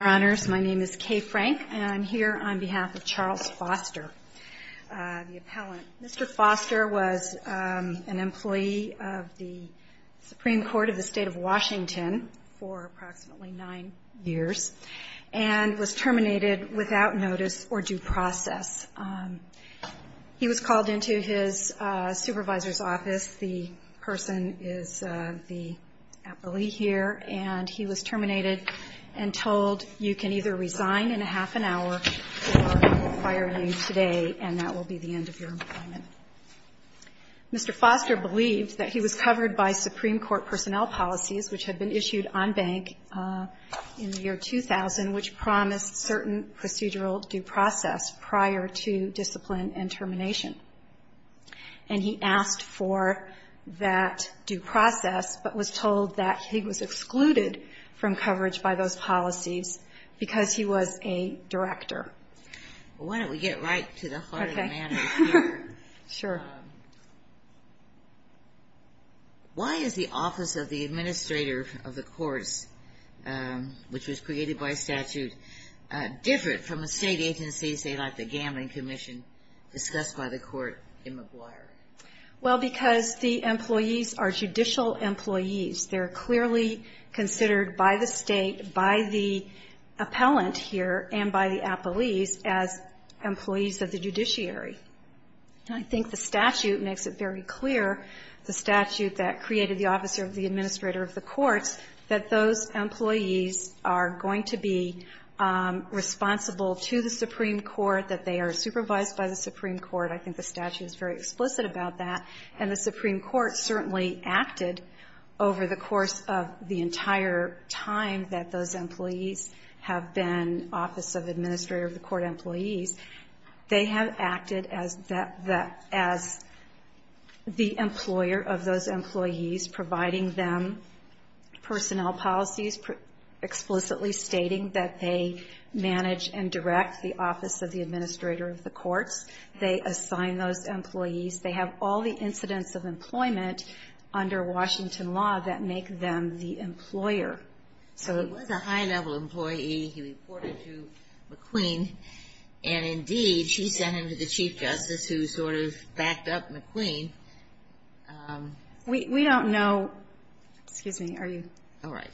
My name is Kay Frank, and I'm here on behalf of Charles Foster, the appellant. Mr. Foster was an employee of the Supreme Court of the State of Washington for approximately nine years and was terminated without notice or due process. He was called into his supervisor's office. The person is the appellee here, and he was terminated and told that he was not eligible for the job. You can either resign in a half an hour, or I will fire you today, and that will be the end of your employment. Mr. Foster believed that he was covered by Supreme Court personnel policies, which had been issued on bank in the year 2000, which promised certain procedural due process prior to discipline and termination. And he asked for that due process, but was told that he was excluded from coverage by those policies because he was a director. Why don't we get right to the heart of the matter here? Why is the office of the administrator of the courts, which was created by statute, different from the state agencies, say like the gambling commission, discussed by the court in Maguire? Well, because the employees are judicial employees. They're clearly considered by the state, by the appellant here, and by the appellees as employees of the judiciary. I think the statute makes it very clear, the statute that created the office of the administrator of the courts, that those employees are going to be responsible to the Supreme Court, that they are supervised by the Supreme Court. I think the Supreme Court certainly acted over the course of the entire time that those employees have been office of administrator of the court employees. They have acted as the employer of those employees, providing them personnel policies, explicitly stating that they manage and direct the office of the administrator of the courts. They assign those employees. They have all the incidents of employment under Washington law that make them the employer. He was a high-level employee. He reported to McQueen. And indeed, she sent him to the Chief Justice, who sort of backed up McQueen. We don't know. Excuse me. Are you? All right.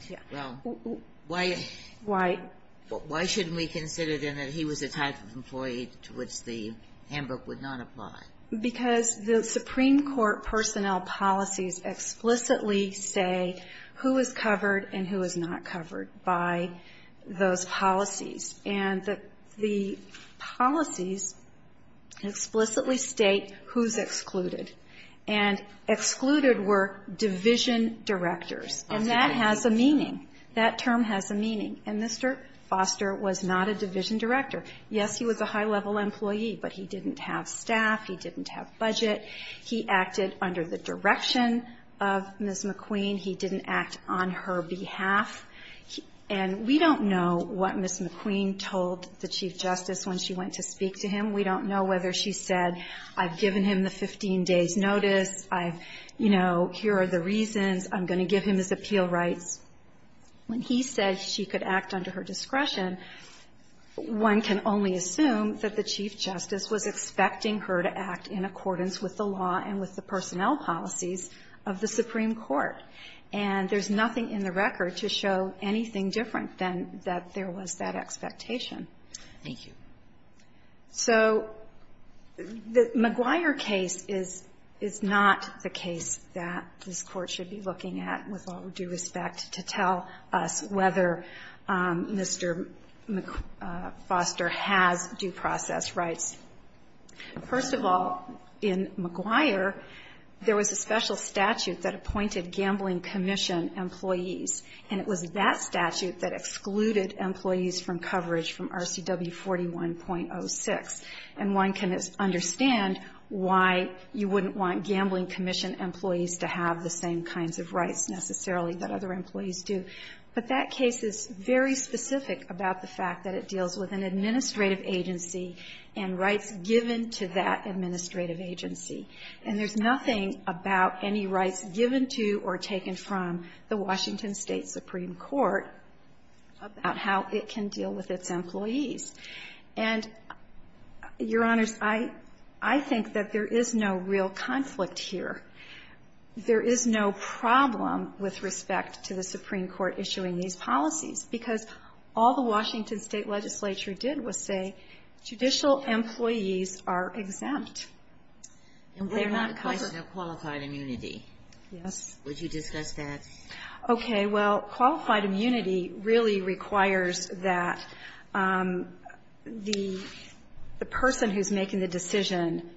Well, why shouldn't we consider, then, that he was the type of employee to which the handbook would not apply? Because the Supreme Court personnel policies explicitly say who is covered and who is not covered by those policies. And the policies explicitly state who is excluded. And excluded were division directors. And that has a meaning. That term has a meaning. And Mr. Foster was not a division director. He was a high-level employee. But he didn't have staff. He didn't have budget. He acted under the direction of Ms. McQueen. He didn't act on her behalf. And we don't know what Ms. McQueen told the Chief Justice when she went to speak to him. We don't know whether she said, I've given him the 15 days' notice. I've, you know, here are the reasons. I'm going to give him his appeal rights. When he said she could act under her discretion, one can only assume that the Chief Justice was expecting her to act in accordance with the law and with the personnel policies of the Supreme Court. And there's nothing in the record to show anything different than that there was that expectation. Thank you. So the McGuire case is not the case that this Court should be looking at with all due respect to tell us whether Mr. Foster has due process rights. First of all, in McGuire, there was a special statute that appointed Gambling Commission employees. And it was that statute that excluded employees from coverage from RCW 41.06. And one can understand why you wouldn't want Gambling Commission employees to have the same kinds of rights necessarily that other employees do. But that case is very specific about the fact that it deals with an administrative agency and rights given to that administrative agency. And there's nothing about any rights given to or taken from the Washington State Supreme Court about how it can deal with its employees. And, Your Honors, I think that there is no real conflict here. There is no problem with respect to the Supreme Court issuing these policies, because all the Washington State legislature did was say judicial employees are exempt. They're not covered. And we have a question of qualified immunity. Yes. Would you discuss that? Okay. Well, qualified immunity really requires that the person who's making the decision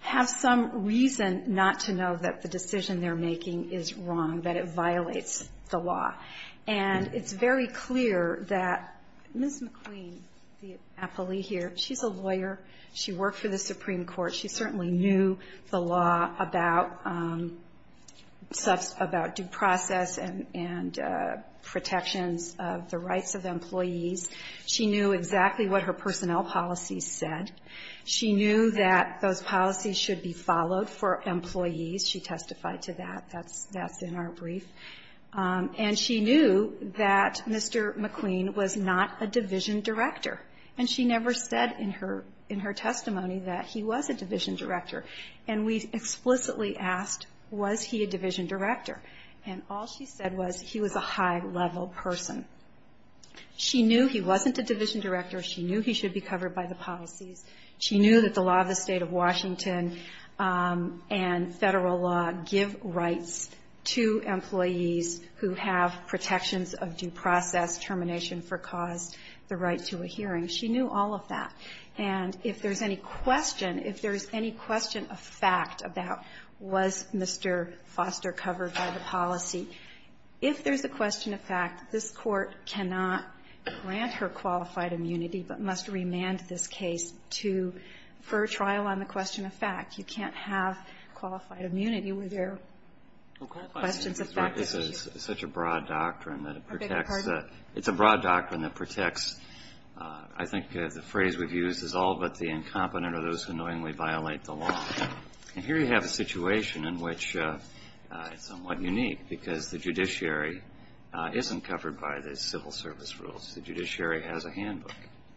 have some reason not to know that the decision they're making is wrong, that it violates the law. And it's very clear that Ms. McQueen, the appellee here, she's a lawyer. She worked for the Supreme Court. She certainly knew the law about due process and protections of the rights of employees. She knew exactly what her personnel policy said. She knew that those policies should be followed for employees. She testified to that. That's in our brief. And she knew that Mr. McQueen was not a division director. And she never said in her testimony that he was a division director. And we explicitly asked, was he a division director? And all she said was he was a high-level person. She knew he wasn't a division director. She knew he should be covered by the policies. She knew that the law of the State of Washington and Federal law give rights to employees who have protections of due process, termination for cause, the right to a hearing. She knew all of that. And if there's any question, if there's any question of fact about, was Mr. Foster covered by the policy, if there's a question of fact, this Court cannot grant her qualified immunity, but must remand this case to, for a trial on the question of fact. You can't have qualified immunity where there are questions of fact that you can't have. Breyer, this is such a broad doctrine that it protects the – it's a broad doctrine that protects, I think the phrase we've used is, all but the incompetent are those who knowingly violate the law. And here you have a situation in which it's somewhat unique because the judiciary isn't covered by the civil service rules. The judiciary has a handbook.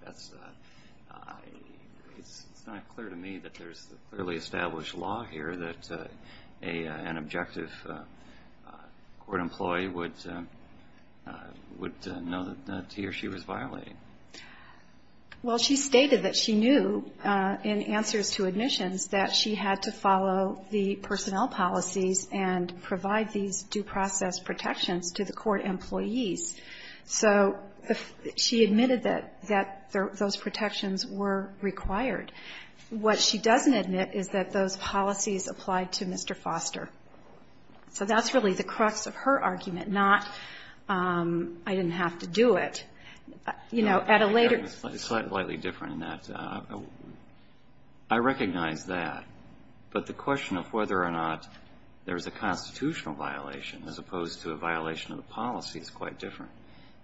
That's – it's not clear to me that there's clearly established law here that an objective court employee would know that he or she was violating. Well, she stated that she knew in answers to admissions that she had to follow the personnel policies and provide these due process protections to the court employees. So she admitted that those protections were required. What she doesn't admit is that those policies applied to Mr. Foster. So that's really the crux of her slightly different than that. I recognize that. But the question of whether or not there's a constitutional violation as opposed to a violation of the policy is quite different.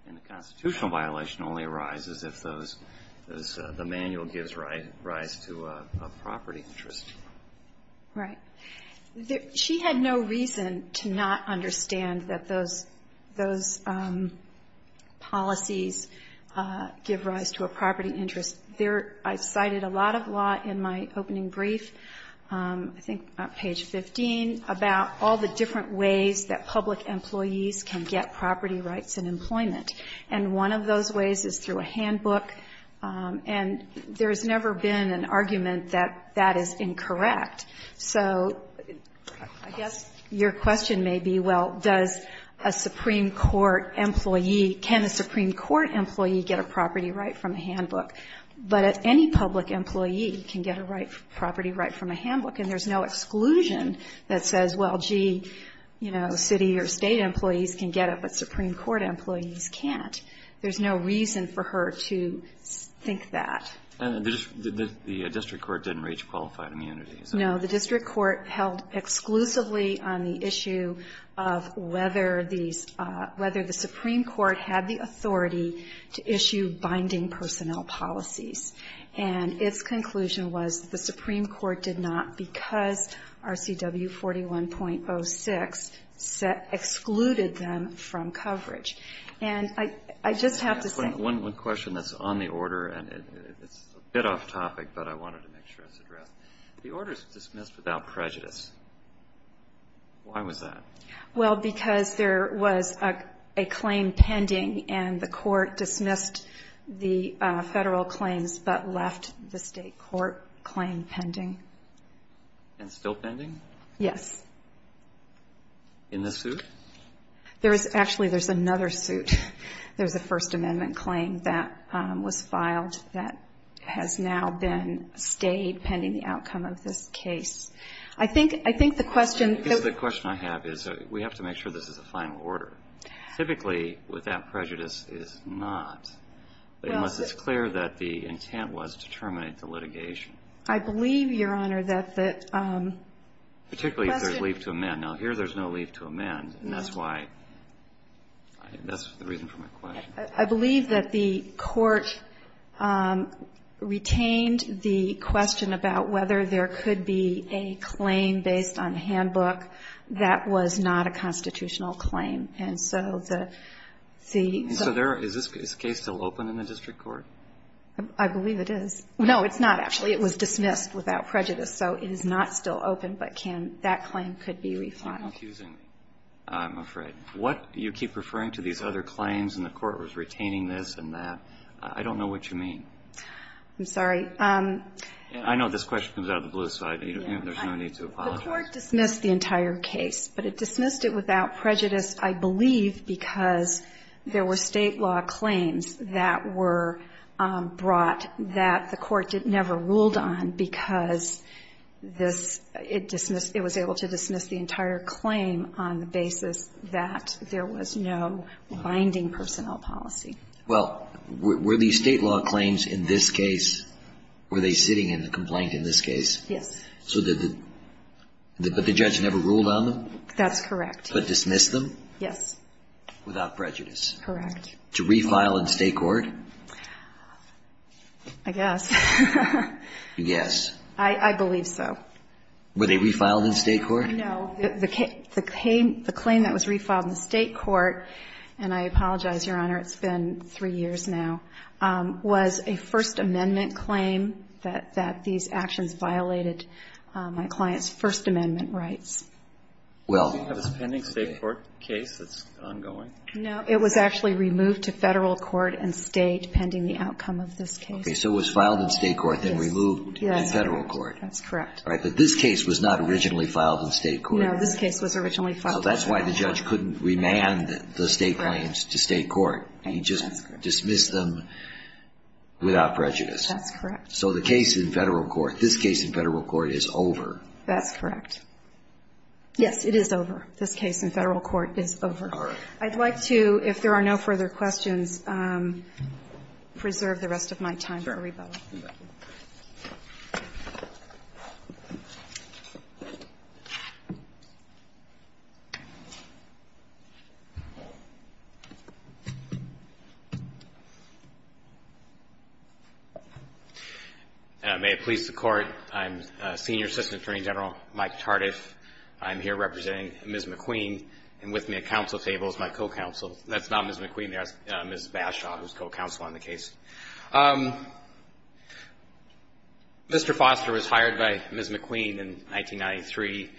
And the constitutional violation only arises if those – the manual gives rise to a property interest. Right. She had no reason to not understand that those – those policies give rise to a property interest. There – I cited a lot of law in my opening brief, I think on page 15, about all the different ways that public employees can get property rights and employment. And one of those ways is through a handbook. And there's never been an argument that that is incorrect. So I guess your question may be, well, does a Supreme Court employee – can a Supreme Court employee get a property right from a handbook? But any public employee can get a right – property right from a handbook. And there's no exclusion that says, well, gee, you know, city or And the district court didn't reach qualified immunity. No. The district court held exclusively on the issue of whether these – whether the Supreme Court had the authority to issue binding personnel policies. And its conclusion was the Supreme Court did not because RCW 41.06 set – excluded them from coverage. And I just have to say – One question that's on the order, and it's a bit off topic, but I wanted to make sure it's addressed. The order is dismissed without prejudice. Why was that? Well, because there was a claim pending, and the court dismissed the federal claims but left the state court claim pending. Yes. In the suit? There is – actually, there's another suit. There's a First Amendment claim that was filed that has now been stayed pending the outcome of this case. I think – I think the question – The question I have is we have to make sure this is a final order. Typically, without prejudice, it is not, unless it's clear that the intent was to terminate the litigation. I believe, Your Honor, that the question – Particularly if there's leave to amend. Now, here there's no leave to amend, and that's why – that's the reason for my question. I believe that the court retained the question about whether there could be a claim based on handbook. That was not a constitutional claim. And so the – the – So there – is this case still open in the district court? I believe it is. No, it's not, actually. It was dismissed without prejudice. So it is not still open, but can – that claim could be re-filed. You're confusing me, I'm afraid. What – you keep referring to these other claims and the court was retaining this and that. I don't know what you mean. I'm sorry. I know this question comes out of the blue, so there's no need to apologize. The court dismissed the entire case, but it dismissed it without prejudice, I believe, because there were State law claims that were brought that the court never ruled on because this – it dismissed – it was able to dismiss the entire claim on the basis that there was no binding personnel policy. Well, were these State law claims in this case – were they sitting in the complaint in this case? Yes. So the – but the judge never ruled on them? That's correct. But dismissed them? Yes. Without prejudice? Correct. To re-file in State court? I guess. Yes. I believe so. Were they re-filed in State court? No. The claim that was re-filed in the State court – and I apologize, Your Honor, it's been three years now – was a First Amendment claim that these actions violated my client's First Amendment rights. Well – So you have this pending State court case that's ongoing? No. It was actually removed to Federal court and State pending the outcome of this case. Okay. So it was filed in State court, then removed in Federal court? Yes. That's correct. All right. But this case was not originally filed in State court. No. This case was originally filed in State court. So that's why the judge couldn't remand the State claims to State court. He just dismissed them without prejudice. That's correct. So the case in Federal court – this case in Federal court is over. That's correct. Yes. It is over. This case in Federal court is over. All right. I'd like to, if there are no further questions, preserve the rest of my time for a rebuttal. Sure. Thank you. May it please the Court. I'm Senior Assistant Attorney General Mike Tardif. I'm here representing Ms. McQueen. And with me at counsel table is my co-counsel. That's not Ms. McQueen there. That's Ms. Bashaw, who's co-counsel on the case. Mr. Foster was hired by Ms. McQueen in 1993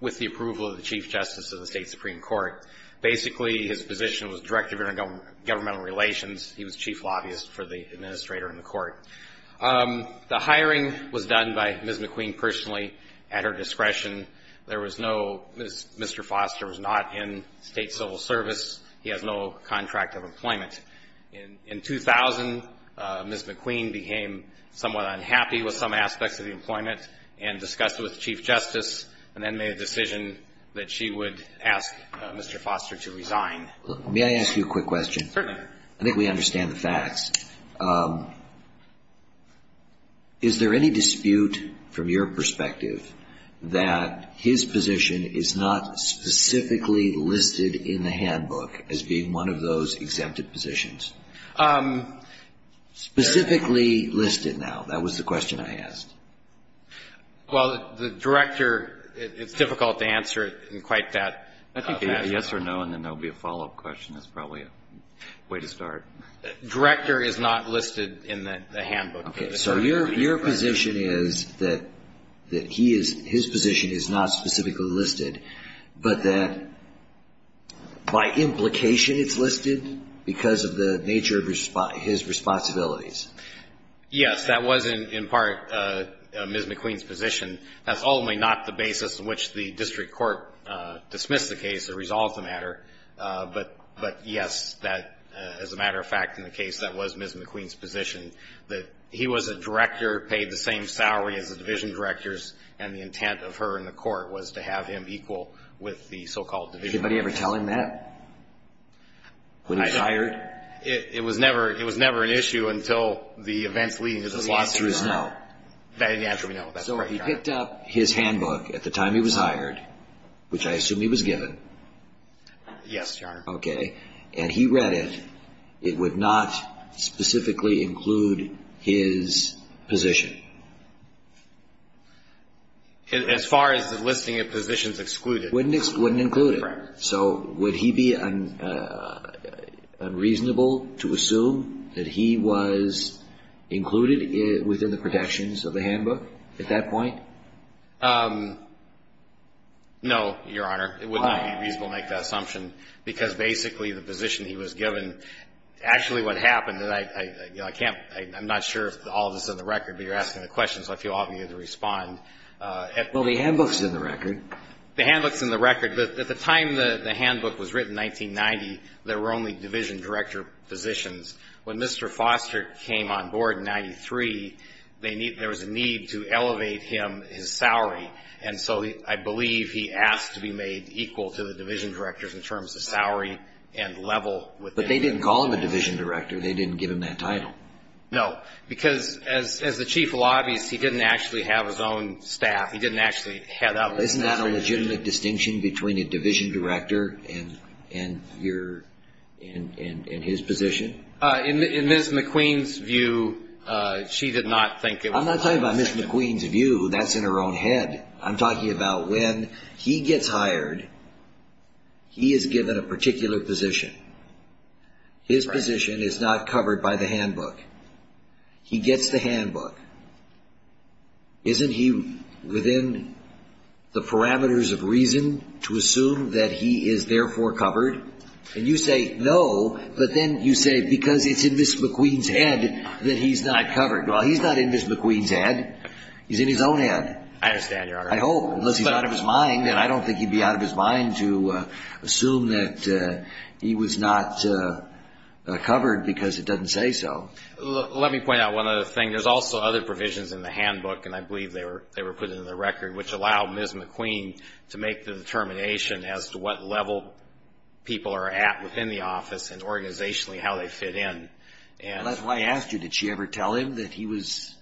with the approval of the Chief Justice of the State Supreme Court. Basically, his position was Director of Intergovernmental Relations. The hiring was done by Ms. McQueen personally at her discretion. There was no – Mr. Foster was not in State civil service. He has no contract of employment. In 2000, Ms. McQueen became somewhat unhappy with some aspects of the employment and discussed it with the Chief Justice and then made a decision that she would ask Mr. Foster to resign. May I ask you a quick question? Certainly. I think we understand the facts. Is there any dispute from your perspective that his position is not specifically listed in the handbook as being one of those exempted positions? Specifically listed now, that was the question I asked. Well, the Director, it's difficult to answer it in quite that fashion. I think a yes or no and then there will be a follow-up question is probably a way to start. Director is not listed in the handbook. Okay, so your position is that his position is not specifically listed, but that by implication it's listed because of the nature of his responsibilities. Yes, that was in part Ms. McQueen's position. That's ultimately not the basis on which the district court dismissed the case or resolved the matter. But, yes, as a matter of fact, in the case that was Ms. McQueen's position, that he was a director, paid the same salary as the division directors, and the intent of her and the court was to have him equal with the so-called division directors. Did anybody ever tell him that when he retired? It was never an issue until the events leading to this lawsuit. So the answer is no. The answer is no. So he picked up his handbook at the time he was hired, which I assume he was given. Yes, Your Honor. Okay. And he read it. It would not specifically include his position. As far as the listing of positions excluded. Wouldn't include it. Correct. So would he be unreasonable to assume that he was included within the protections of the handbook at that point? No, Your Honor. It would not be reasonable to make that assumption because basically the position he was given, actually what happened, and I'm not sure if all of this is in the record, but you're asking the question so I feel obligated to respond. Well, the handbook's in the record. The handbook's in the record. At the time the handbook was written, 1990, there were only division director positions. When Mr. Foster came on board in 93, there was a need to elevate him his salary, and so I believe he asked to be made equal to the division directors in terms of salary and level. But they didn't call him a division director. They didn't give him that title. No, because as the chief of lobbies, he didn't actually have his own staff. He didn't actually head up. Isn't that a legitimate distinction between a division director and his position? In Ms. McQueen's view, she did not think it was a legitimate distinction. I'm not talking about Ms. McQueen's view. That's in her own head. I'm talking about when he gets hired, he is given a particular position. His position is not covered by the handbook. He gets the handbook. Isn't he within the parameters of reason to assume that he is therefore covered? And you say no, but then you say because it's in Ms. McQueen's head that he's not covered. Well, he's not in Ms. McQueen's head. He's in his own head. I understand, Your Honor. I hope. Unless he's out of his mind. And I don't think he'd be out of his mind to assume that he was not covered because it doesn't say so. Let me point out one other thing. There's also other provisions in the handbook, and I believe they were put into the record, which allow Ms. McQueen to make the determination as to what level people are at within the office and organizationally how they fit in. That's why I asked you. Did she ever tell him that he was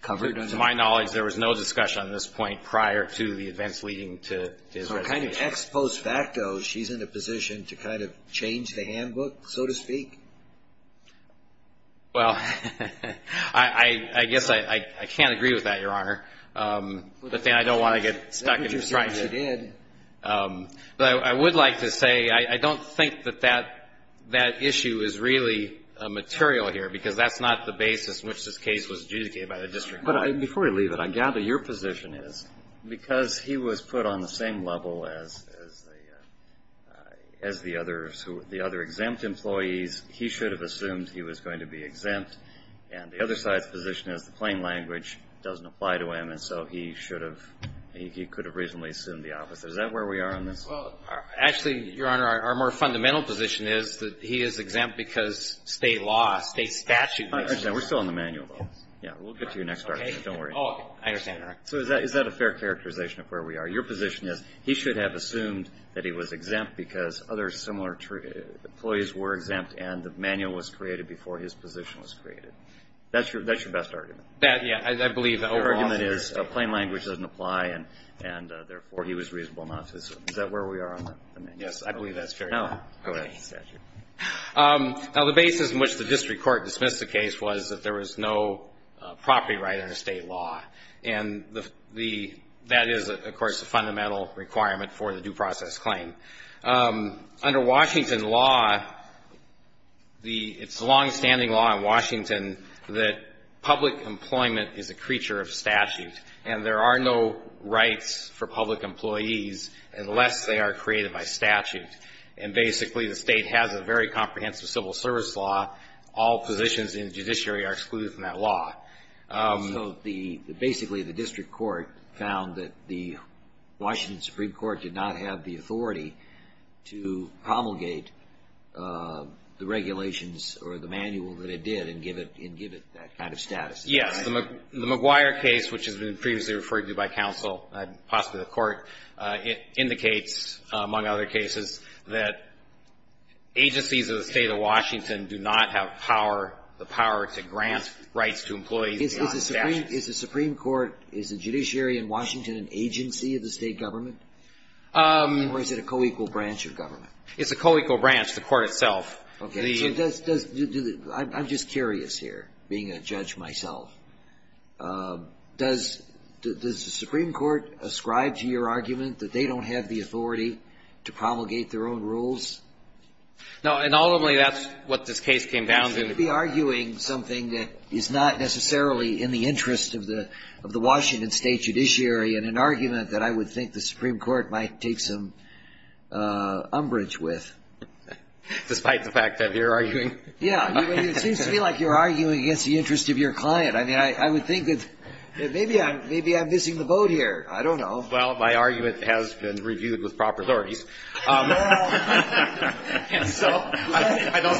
covered? To my knowledge, there was no discussion on this point prior to the events leading to his resignation. But ex post facto, she's in a position to kind of change the handbook, so to speak? Well, I guess I can't agree with that, Your Honor. The thing I don't want to get stuck in is trying to. But I would like to say I don't think that that issue is really material here, because that's not the basis in which this case was adjudicated by the district court. But before we leave it, I gather your position is because he was put on the same level as the other exempt employees, he should have assumed he was going to be exempt. And the other side's position is the plain language doesn't apply to him, and so he could have reasonably assumed the office. Is that where we are on this? Actually, Your Honor, our more fundamental position is that he is exempt because state law, state statute. We're still on the manual, though. Yeah, we'll get to your next argument. Don't worry. So is that a fair characterization of where we are? Your position is he should have assumed that he was exempt because other similar employees were exempt and the manual was created before his position was created. That's your best argument. Yeah, I believe that. Your argument is the plain language doesn't apply and, therefore, he was reasonable enough. Is that where we are on that? Yes, I believe that's fair. Now, go ahead. Now, the basis in which the district court dismissed the case was that there was no property right under state law, and that is, of course, a fundamental requirement for the due process claim. Under Washington law, it's a longstanding law in Washington that public employment is a creature of statute, and there are no rights for public employees unless they are created by statute. And, basically, the state has a very comprehensive civil service law. All positions in the judiciary are excluded from that law. So basically the district court found that the Washington Supreme Court did not have the authority to promulgate the regulations or the manual that it did and give it that kind of status. Yes. The McGuire case, which has been previously referred to by counsel and possibly the court, it indicates, among other cases, that agencies of the state of Washington do not have power, the power to grant rights to employees beyond statute. Is the Supreme Court, is the judiciary in Washington an agency of the state government? Or is it a co-equal branch of government? It's a co-equal branch, the court itself. Okay. I'm just curious here, being a judge myself. Does the Supreme Court ascribe to your argument that they don't have the authority to promulgate their own rules? No, and ultimately that's what this case came down to. You seem to be arguing something that is not necessarily in the interest of the Washington State judiciary in an argument that I would think the Supreme Court might take some umbrage with. Despite the fact that you're arguing? Yeah. It seems to me like you're arguing against the interest of your client. I mean, I would think that maybe I'm missing the boat here. I don't know. Well, my argument has been reviewed with proper authorities. So I don't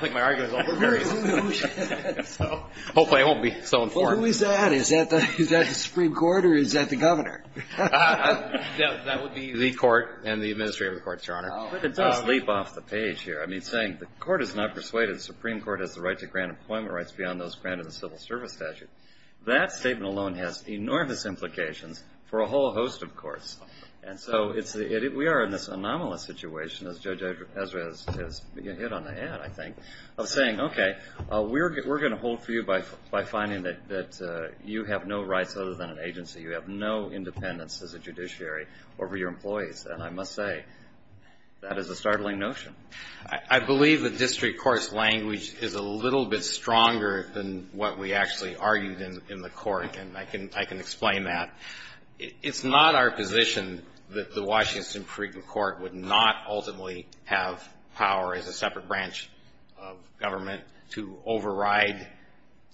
think my argument is overbearing. So hopefully I won't be so informed. Well, who is that? Is that the Supreme Court or is that the governor? That would be the court and the administrator of the courts, Your Honor. It does leap off the page here. I mean, saying the court is not persuaded the Supreme Court has the right to grant employment rights beyond those granted in the civil service statute. That statement alone has enormous implications for a whole host of courts. And so we are in this anomalous situation, as Judge Ezra has hit on the ad, I think, of saying, okay, we're going to hold for you by finding that you have no rights other than an agency. You have no independence as a judiciary over your employees. And I must say, that is a startling notion. I believe the district court's language is a little bit stronger than what we actually argued in the court. And I can explain that. It's not our position that the Washington Supreme Court would not ultimately have power as a separate branch of government to override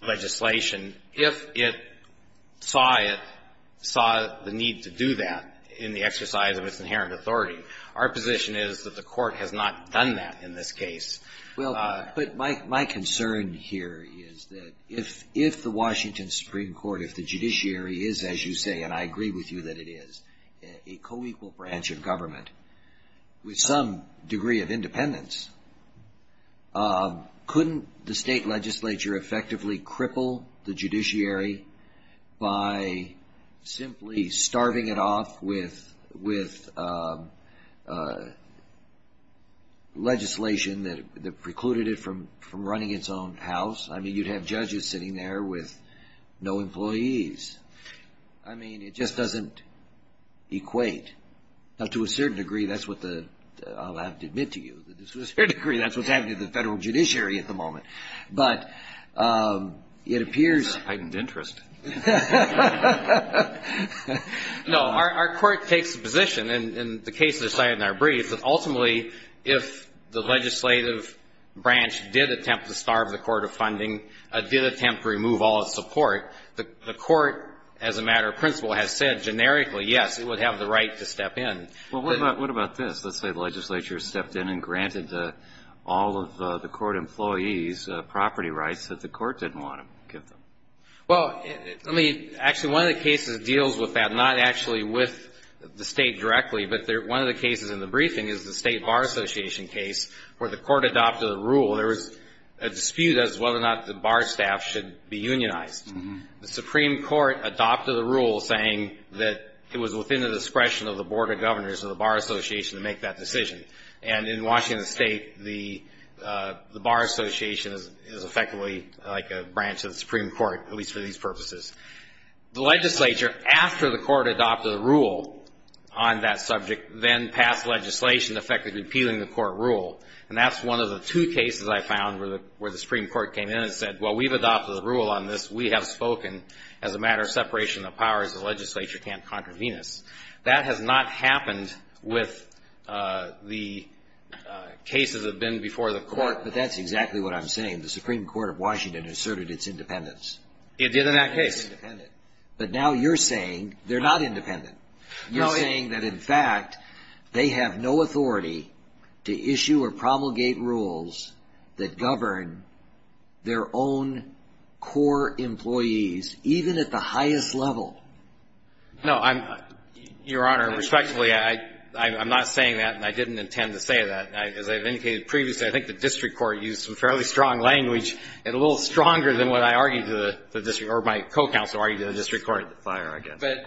legislation if it saw it, saw the need to do that in the exercise of its inherent authority. Our position is that the court has not done that in this case. Well, but my concern here is that if the Washington Supreme Court, if the judiciary is, as you say, and I agree with you that it is, a co-equal branch of government with some degree of independence, couldn't the state legislature effectively cripple the judiciary by simply starving it off with legislation that precluded it from running its own house? I mean, you'd have judges sitting there with no employees. I mean, it just doesn't equate. Now, to a certain degree, that's what the, I'll have to admit to you, to a certain degree, that's what's happening to the federal judiciary at the moment. But it appears. Heightened interest. No, our court takes a position, and the cases are cited in our brief, that ultimately if the legislative branch did attempt to starve the court of funding, did attempt to remove all its support, the court, as a matter of principle, has said generically, yes, it would have the right to step in. Well, what about this? Let's say the legislature stepped in and granted all of the court employees property rights that the court didn't want to give them. Well, I mean, actually, one of the cases that deals with that, not actually with the state directly, but one of the cases in the briefing is the State Bar Association case where the court adopted a rule. There was a dispute as to whether or not the bar staff should be unionized. The Supreme Court adopted a rule saying that it was within the discretion of the Board of Governors or the Bar Association to make that decision. And in Washington State, the Bar Association is effectively like a branch of the Supreme Court, at least for these purposes. The legislature, after the court adopted a rule on that subject, then passed legislation effectively repealing the court rule. And that's one of the two cases I found where the Supreme Court came in and said, well, we've adopted a rule on this. We have spoken as a matter of separation of powers. The legislature can't contravene us. That has not happened with the cases that have been before the court. But that's exactly what I'm saying. The Supreme Court of Washington asserted its independence. It did in that case. But now you're saying they're not independent. You're saying that, in fact, they have no authority to issue or promulgate rules that govern their own core employees, even at the highest level. No. Your Honor, respectfully, I'm not saying that, and I didn't intend to say that. As I've indicated previously, I think the district court used some fairly strong language, and a little stronger than what I argued to the district or my co-counsel argued to the district court. But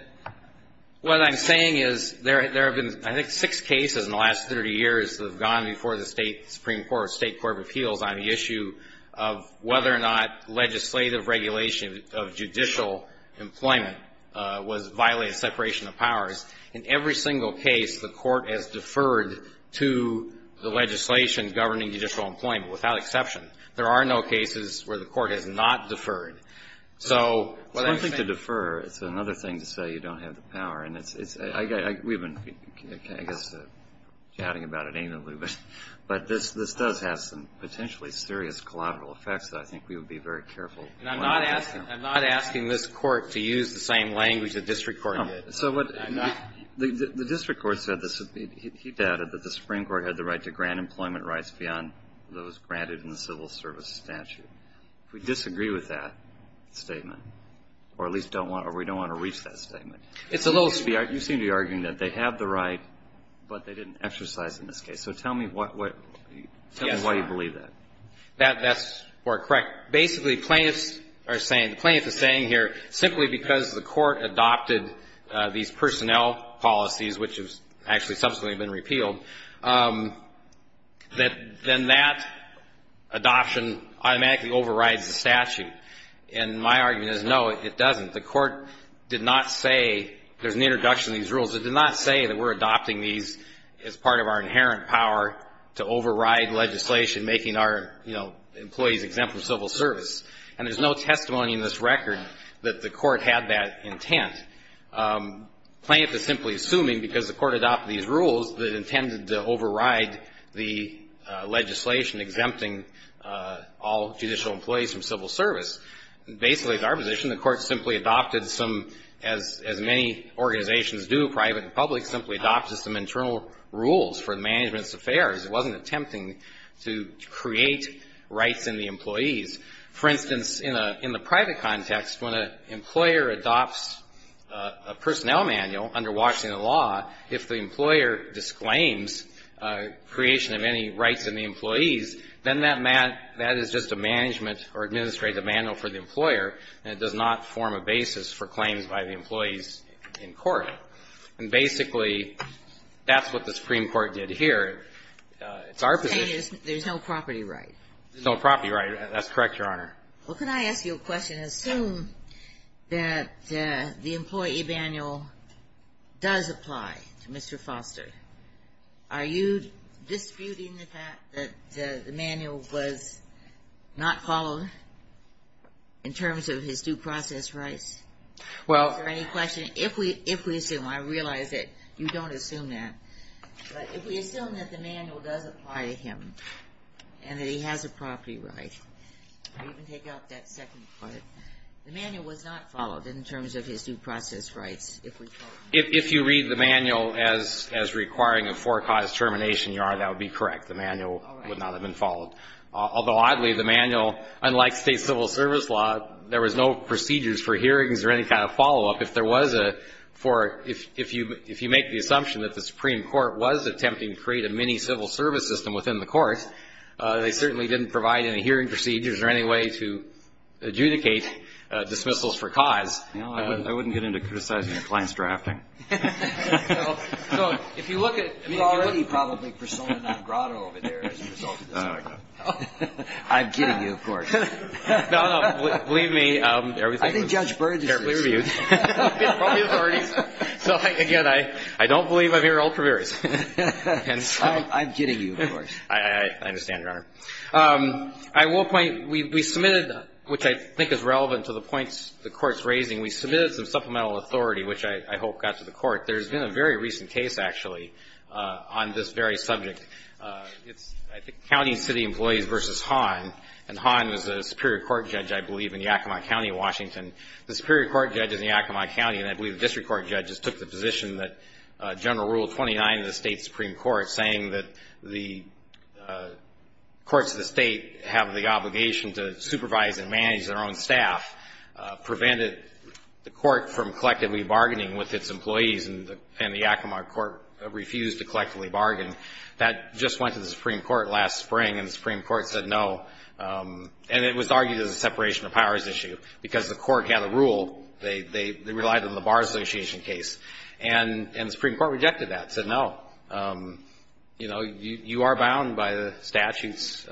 what I'm saying is there have been, I think, six cases in the last 30 years that have gone before the State Supreme Court or State Court of Appeals on the issue of whether or not legislative regulation of judicial employment was violating separation of powers. In every single case, the court has deferred to the legislation governing judicial employment, without exception. There are no cases where the court has not deferred. It's one thing to defer. It's another thing to say you don't have the power. And we've been, I guess, chatting about it amingly, but this does have some potentially serious collateral effects that I think we would be very careful. And I'm not asking this court to use the same language the district court did. The district court said this. He doubted that the Supreme Court had the right to grant employment rights beyond those granted in the civil service statute. If we disagree with that statement, or at least don't want to, or we don't want to reach that statement. It's a little sparse. You seem to be arguing that they have the right, but they didn't exercise in this case. So tell me what, why you believe that. That's correct. Basically, plaintiffs are saying, the plaintiff is saying here simply because the court adopted these personnel policies, which have actually subsequently been repealed, that then that adoption automatically overrides the statute. And my argument is, no, it doesn't. The court did not say there's an introduction to these rules. It did not say that we're adopting these as part of our inherent power to override legislation making our, you know, employees exempt from civil service. And there's no testimony in this record that the court had that intent. Plaintiff is simply assuming because the court adopted these rules that it intended to override the legislation exempting all judicial employees from civil service. Basically, it's our position the court simply adopted some, as many organizations do, private and public, simply adopted some internal rules for the management's affairs. It wasn't attempting to create rights in the employees. For instance, in the private context, when an employer adopts a personnel manual under Washington law, if the employer disclaims creation of any rights in the employees, then that is just a management or administrative manual for the employer, and it does not form a basis for claims by the employees in court. And basically, that's what the Supreme Court did here. It's our position. There's no property right. There's no property right. That's correct, Your Honor. Well, can I ask you a question? Assume that the employee manual does apply to Mr. Foster. Are you disputing the fact that the manual was not followed in terms of his due process rights? Well... Is there any question? If we assume, I realize that you don't assume that, but if we assume that the manual does apply to him and that he has a property right, you can take out that second part. The manual was not followed in terms of his due process rights. If you read the manual as requiring a forecaused termination, Your Honor, that would be correct. The manual would not have been followed. Although, oddly, the manual, unlike state civil service law, there was no procedures for hearings or any kind of follow-up. If there was a, for, if you make the assumption that the Supreme Court was attempting to create a mini civil service system within the court, they certainly didn't provide any hearing procedures or any way to adjudicate dismissals for cause. I wouldn't get into criticizing your client's drafting. So if you look at... You're already probably persona non grata over there as a result of this argument. I'm kidding you, of course. No, no. Believe me. I think Judge Byrd is... So, again, I don't believe I'm hearing old prairies. I'm kidding you, of course. I understand, Your Honor. At one point, we submitted, which I think is relevant to the points the Court's raising, we submitted some supplemental authority, which I hope got to the Court. There's been a very recent case, actually, on this very subject. It's, I think, County and City Employees v. Hahn. And Hahn was a Superior Court judge, I believe, in Yakima County, Washington. The Superior Court judge is in Yakima County, and I believe the District Court judges took the position that General Rule 29 of the state Supreme Court, saying that the courts of the state have the obligation to supervise and manage their own staff, prevented the court from collectively bargaining with its employees, and the Yakima Court refused to collectively bargain. That just went to the Supreme Court last spring, and the Supreme Court said no. And it was argued as a separation of powers issue, because the court had a rule. They relied on the Bar Association case, and the Supreme Court rejected that, said no. You know, you are bound by the statutes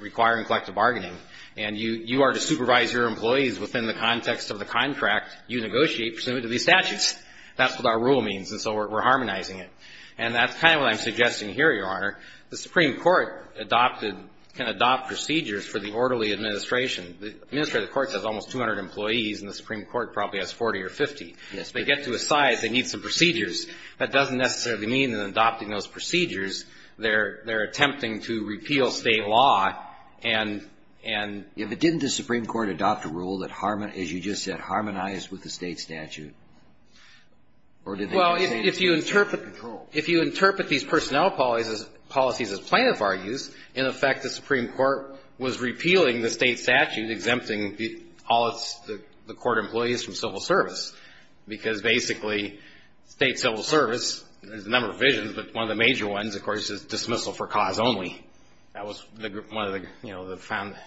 requiring collective bargaining, and you are to supervise your employees within the context of the contract you negotiate pursuant to these statutes. That's what our rule means, and so we're harmonizing it. And that's kind of what I'm suggesting here, Your Honor. The Supreme Court adopted, can adopt procedures for the orderly administration. The administrative court has almost 200 employees, and the Supreme Court probably has 40 or 50. Yes. If they get to a size, they need some procedures. That doesn't necessarily mean that in adopting those procedures, they're attempting to repeal state law. If it didn't, does the Supreme Court adopt a rule that, as you just said, harmonized with the state statute? Well, if you interpret these personnel policies as plaintiff argues, in effect the Supreme Court was repealing the state statute exempting all the court employees from civil service, because basically state civil service, there's a number of provisions, but one of the major ones, of course, is dismissal for cause only. That was one of the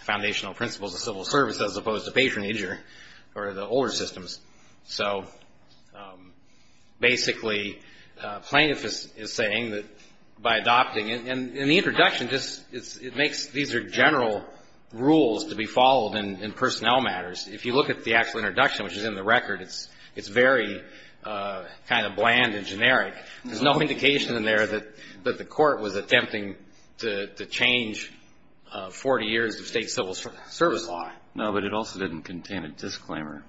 foundational principles of civil service, as opposed to patronage or the older systems. So basically plaintiff is saying that by adopting it, and the introduction, it makes these are general rules to be followed in personnel matters. If you look at the actual introduction, which is in the record, it's very kind of bland and generic. There's no indication in there that the court was attempting to change 40 years of state civil service law. No, but it also didn't contain a disclaimer.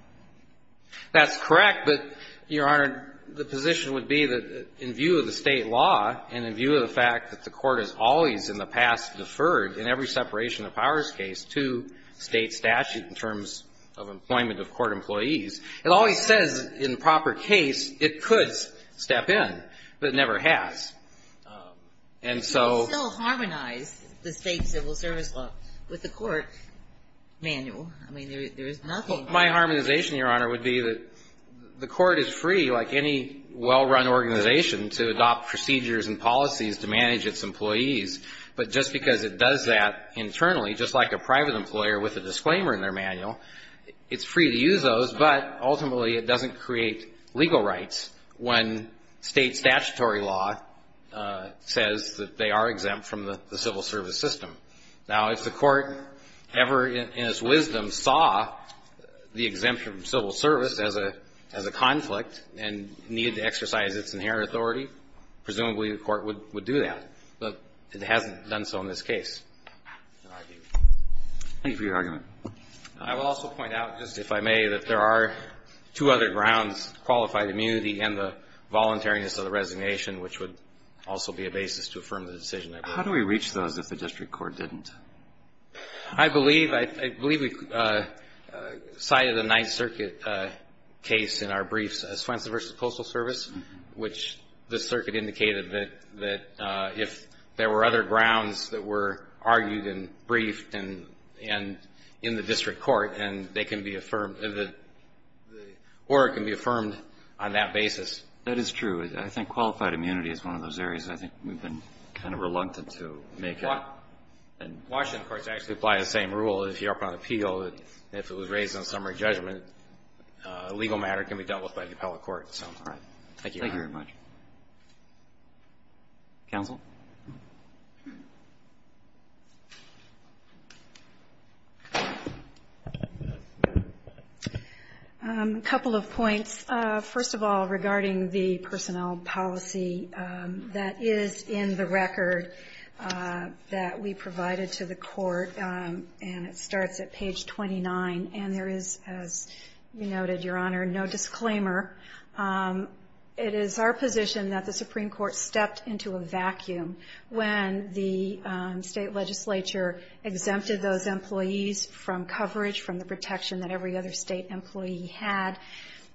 That's correct, but, Your Honor, the position would be that in view of the state law and in view of the fact that the court has always in the past deferred in every separation of powers case to state statute in terms of employment of court employees, it always says in proper case it could step in, but it never has. And so... You can still harmonize the state civil service law with the court manual. I mean, there is nothing... My harmonization, Your Honor, would be that the court is free, like any well-run organization, to adopt procedures and policies to manage its employees. But just because it does that internally, just like a private employer with a disclaimer in their manual, it's free to use those, but ultimately it doesn't create legal rights when state statutory law says that they are exempt from the civil service system. Now, if the court ever in its wisdom saw the exemption from civil service as a conflict and needed to exercise its inherent authority, presumably the court would do that. But it hasn't done so in this case. Thank you for your argument. I will also point out, just if I may, that there are two other grounds, qualified immunity and the voluntariness of the resignation, which would also be a basis to affirm the decision. How do we reach those if the district court didn't? I believe we cited a Ninth Circuit case in our briefs, Swenson v. Postal Service, which the circuit indicated that if there were other grounds that were argued and briefed in the district court, and they can be affirmed, or it can be affirmed on that basis. That is true. I think qualified immunity is one of those areas. I think we've been kind of reluctant to make it. Washington, of course, actually applies the same rule. If you're up on appeal, if it was raised in a summary judgment, a legal matter can be dealt with by the appellate court. Thank you very much. Counsel? A couple of points. First of all, regarding the personnel policy that is in the record that we provided to the court, and it starts at page 29, and there is, as you noted, Your Honor, no disclaimer. It is our position that the Supreme Court stepped into a vacuum when the state legislature exempted those employees from coverage, from the protection that every other state employee had.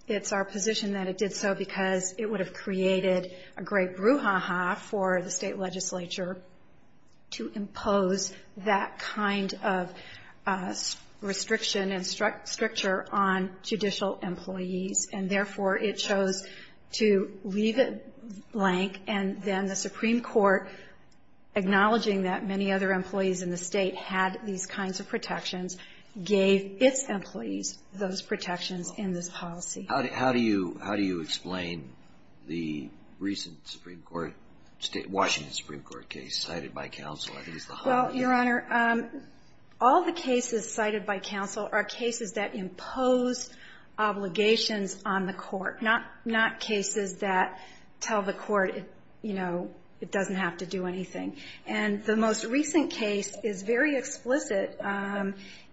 It's our position that it did so because it would have created a great brouhaha for the state legislature to impose that kind of restriction and stricture on judicial employees, and therefore it chose to leave it blank, and then the Supreme Court, acknowledging that many other employees in the state had these kinds of protections, gave its employees those protections in this policy. How do you explain the recent Supreme Court, Washington Supreme Court case cited by counsel? Well, Your Honor, all the cases cited by counsel are cases that impose obligations on the court, not cases that tell the court, you know, it doesn't have to do anything. And the most recent case is very explicit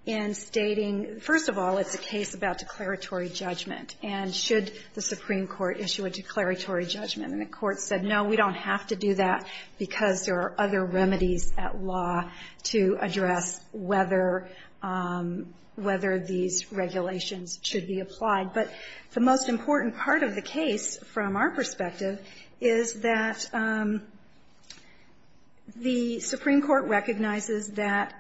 in stating, first of all, it's a case about declaratory judgment, and should the Supreme Court issue a declaratory judgment. And the court said, no, we don't have to do that because there are other remedies at law to address whether these regulations should be applied. But the most important part of the case from our perspective is that the Supreme Court recognizes that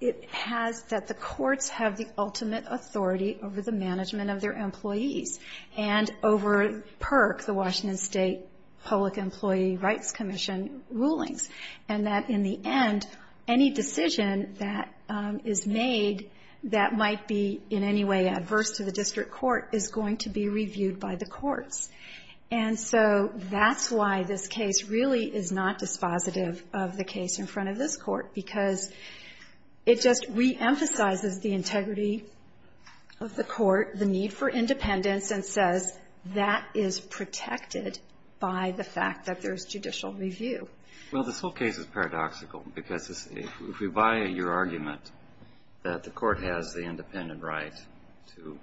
the courts have the ultimate authority over the management of their employees, and over PERC, the Washington State Public Employee Rights Commission rulings, and that in the end, any decision that is made that might be in any way adverse to the district court is going to be reviewed by the courts. And so that's why this case really is not dispositive of the case in front of this court, because it just reemphasizes the integrity of the court, the need for independence, and says that is protected by the fact that there's judicial review. Well, this whole case is paradoxical, because if we buy your argument that the court has the independent right to,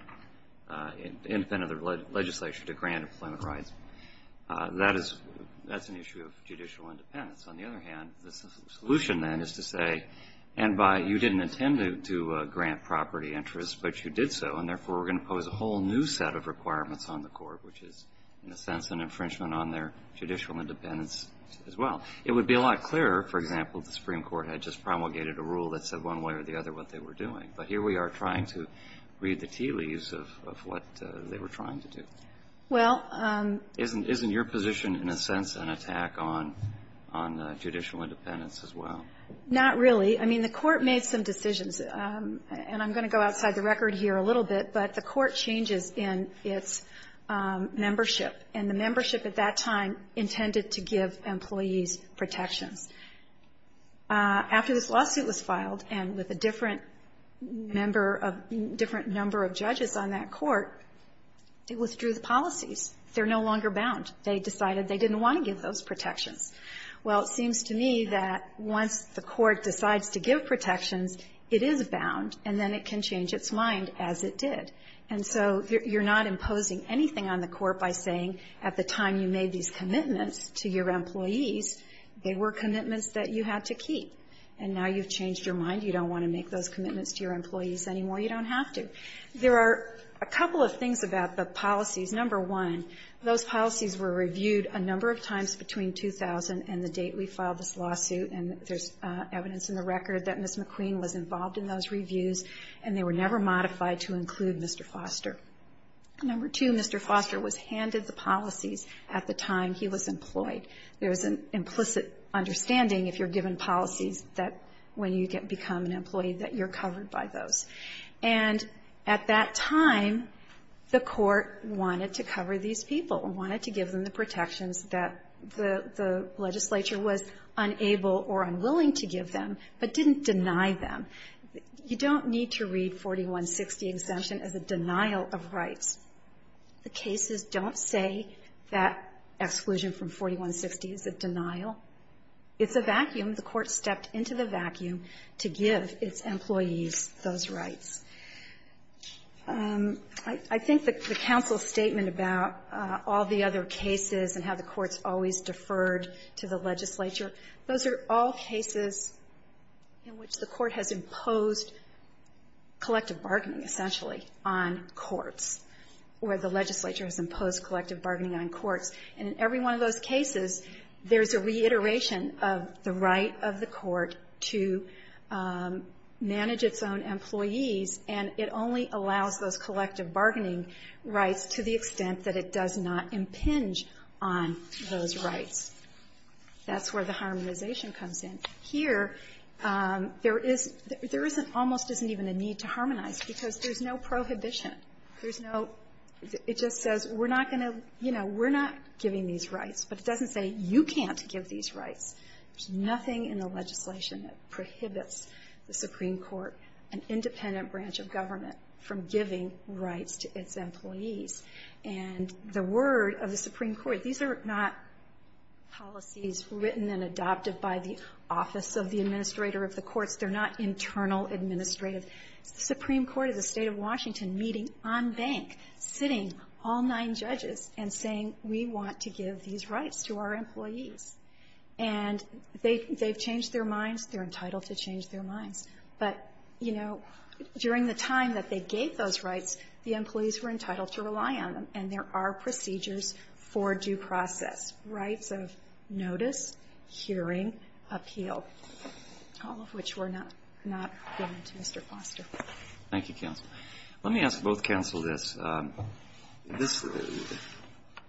independent of the legislature to grant employment rights, that is, that's an issue of judicial independence. On the other hand, the solution, then, is to say, and by you didn't intend to grant property interests, but you did so, and therefore, we're going to pose a whole new set of requirements on the court, which is, in a sense, an infringement on their judicial independence as well. It would be a lot clearer, for example, if the Supreme Court had just promulgated a rule that said one way or the other what they were doing. But here we are trying to read the tea leaves of what they were trying to do. Well. Isn't your position, in a sense, an attack on judicial independence as well? Not really. I mean, the court made some decisions. And I'm going to go outside the record here a little bit, but the court changes in its membership, and the membership at that time intended to give employees protections. After this lawsuit was filed, and with a different member of the different number of judges on that court, it withdrew the policies. They're no longer bound. They decided they didn't want to give those protections. Well, it seems to me that once the court decides to give protections, it is bound, and then it can change its mind, as it did. And so you're not imposing anything on the court by saying at the time you made these commitments to your employees, they were commitments that you had to keep. And now you've changed your mind. You don't want to make those commitments to your employees anymore. You don't have to. There are a couple of things about the policies. Number one, those policies were reviewed a number of times between 2000 and the date we filed this lawsuit. And there's evidence in the record that Ms. McQueen was involved in those reviews, and they were never modified to include Mr. Foster. Number two, Mr. Foster was handed the policies at the time he was employed. There is an implicit understanding, if you're given policies, that when you become an employee, that you're covered by those. And at that time, the court wanted to cover these people and wanted to give them the protections that the legislature was unable or unwilling to give them, but didn't deny them. You don't need to read 4160 exemption as a denial of rights. The cases don't say that exclusion from 4160 is a denial. It's a vacuum. The court stepped into the vacuum to give its employees those rights. I think the counsel's statement about all the other cases and how the courts always deferred to the legislature, those are all cases in which the court has imposed collective bargaining, essentially, on courts, where the legislature has imposed collective bargaining on courts. And in every one of those cases, there's a reiteration of the right of the court to manage its own employees, and it only allows those collective bargaining rights to the extent that it does not impinge on those rights. That's where the harmonization comes in. Here, there is almost isn't even a need to harmonize, because there's no prohibition. There's no, it just says we're not going to, you know, we're not giving these rights. But it doesn't say you can't give these rights. There's nothing in the legislation that prohibits the Supreme Court, an independent branch of government, from giving rights to its employees. And the word of the Supreme Court, these are not policies written and adopted by the office of the administrator of the courts. They're not internal administrative. The Supreme Court is a State of Washington meeting on bank, sitting all nine judges, and saying, we want to give these rights to our employees. And they've changed their minds. They're entitled to change their minds. But, you know, during the time that they gave those rights, the employees were entitled to rely on them, and there are procedures for due process, rights of notice, hearing, and appeal, all of which were not given to Mr. Foster. Thank you, counsel. Let me ask both counsel this.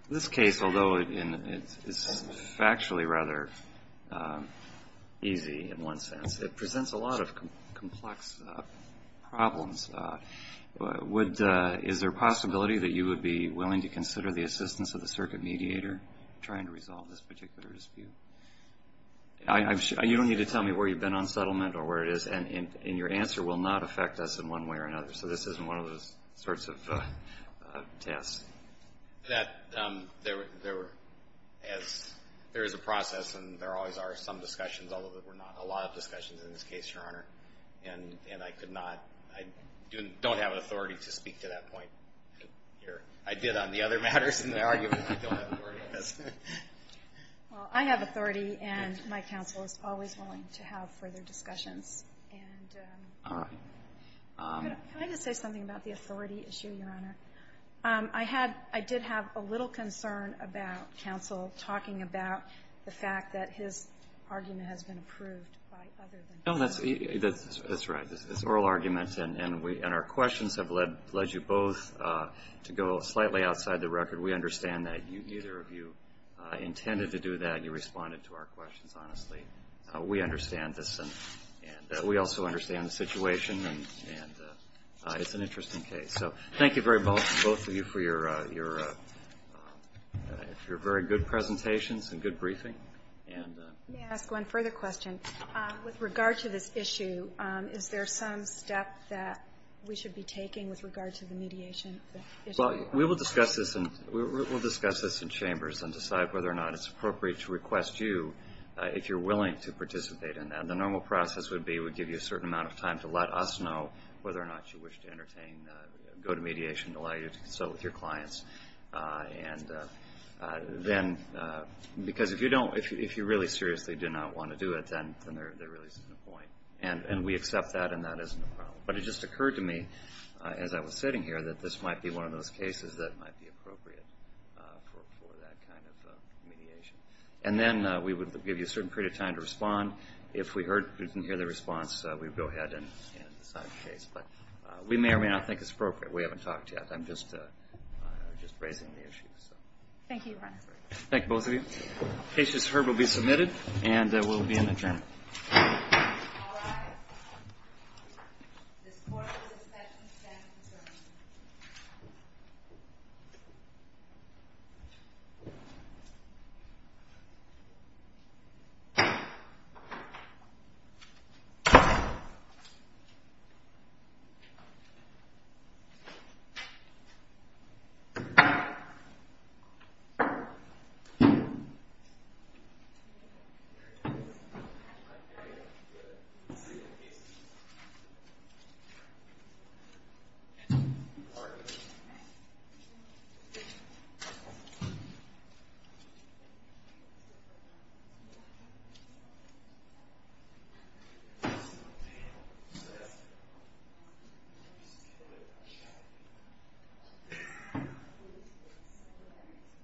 This case, although it's factually rather easy in one sense, it presents a lot of complex problems. Is there a possibility that you would be willing to consider the assistance of the circuit mediator trying to resolve this particular dispute? You don't need to tell me where you've been on settlement or where it is, and your answer will not affect us in one way or another. So this isn't one of those sorts of tasks. There is a process, and there always are some discussions, although there were not a lot of discussions in this case, Your Honor. And I could not, I don't have authority to speak to that point here. I did on the other matters in the argument, but I don't have authority. Well, I have authority, and my counsel is always willing to have further discussions. All right. Can I just say something about the authority issue, Your Honor? I did have a little concern about counsel talking about the fact that his argument has been approved by other than counsel. That's right. It's oral argument, and our questions have led you both to go slightly outside the record. We understand that neither of you intended to do that. You responded to our questions honestly. We understand this, and we also understand the situation, and it's an interesting case. So thank you very much, both of you, for your very good presentations and good briefing. May I ask one further question? With regard to this issue, is there some step that we should be taking with regard to the mediation issue? Well, we will discuss this in chambers and decide whether or not it's appropriate to request you, if you're willing to participate in that. The normal process would be we give you a certain amount of time to let us know whether or not you wish to entertain, go to mediation, allow you to consult with your clients. Because if you really seriously do not want to do it, then there really isn't a point. But it just occurred to me as I was sitting here that this might be one of those cases that might be appropriate for that kind of mediation. And then we would give you a certain period of time to respond. If we didn't hear the response, we would go ahead and decide the case. But we may or may not think it's appropriate. We haven't talked yet. I'm just raising the issue. Thank you, Your Honor. Thank you, both of you. The case you just heard will be submitted, and we'll be in the adjournment. All rise. This court will discuss and stand adjourned. Thank you.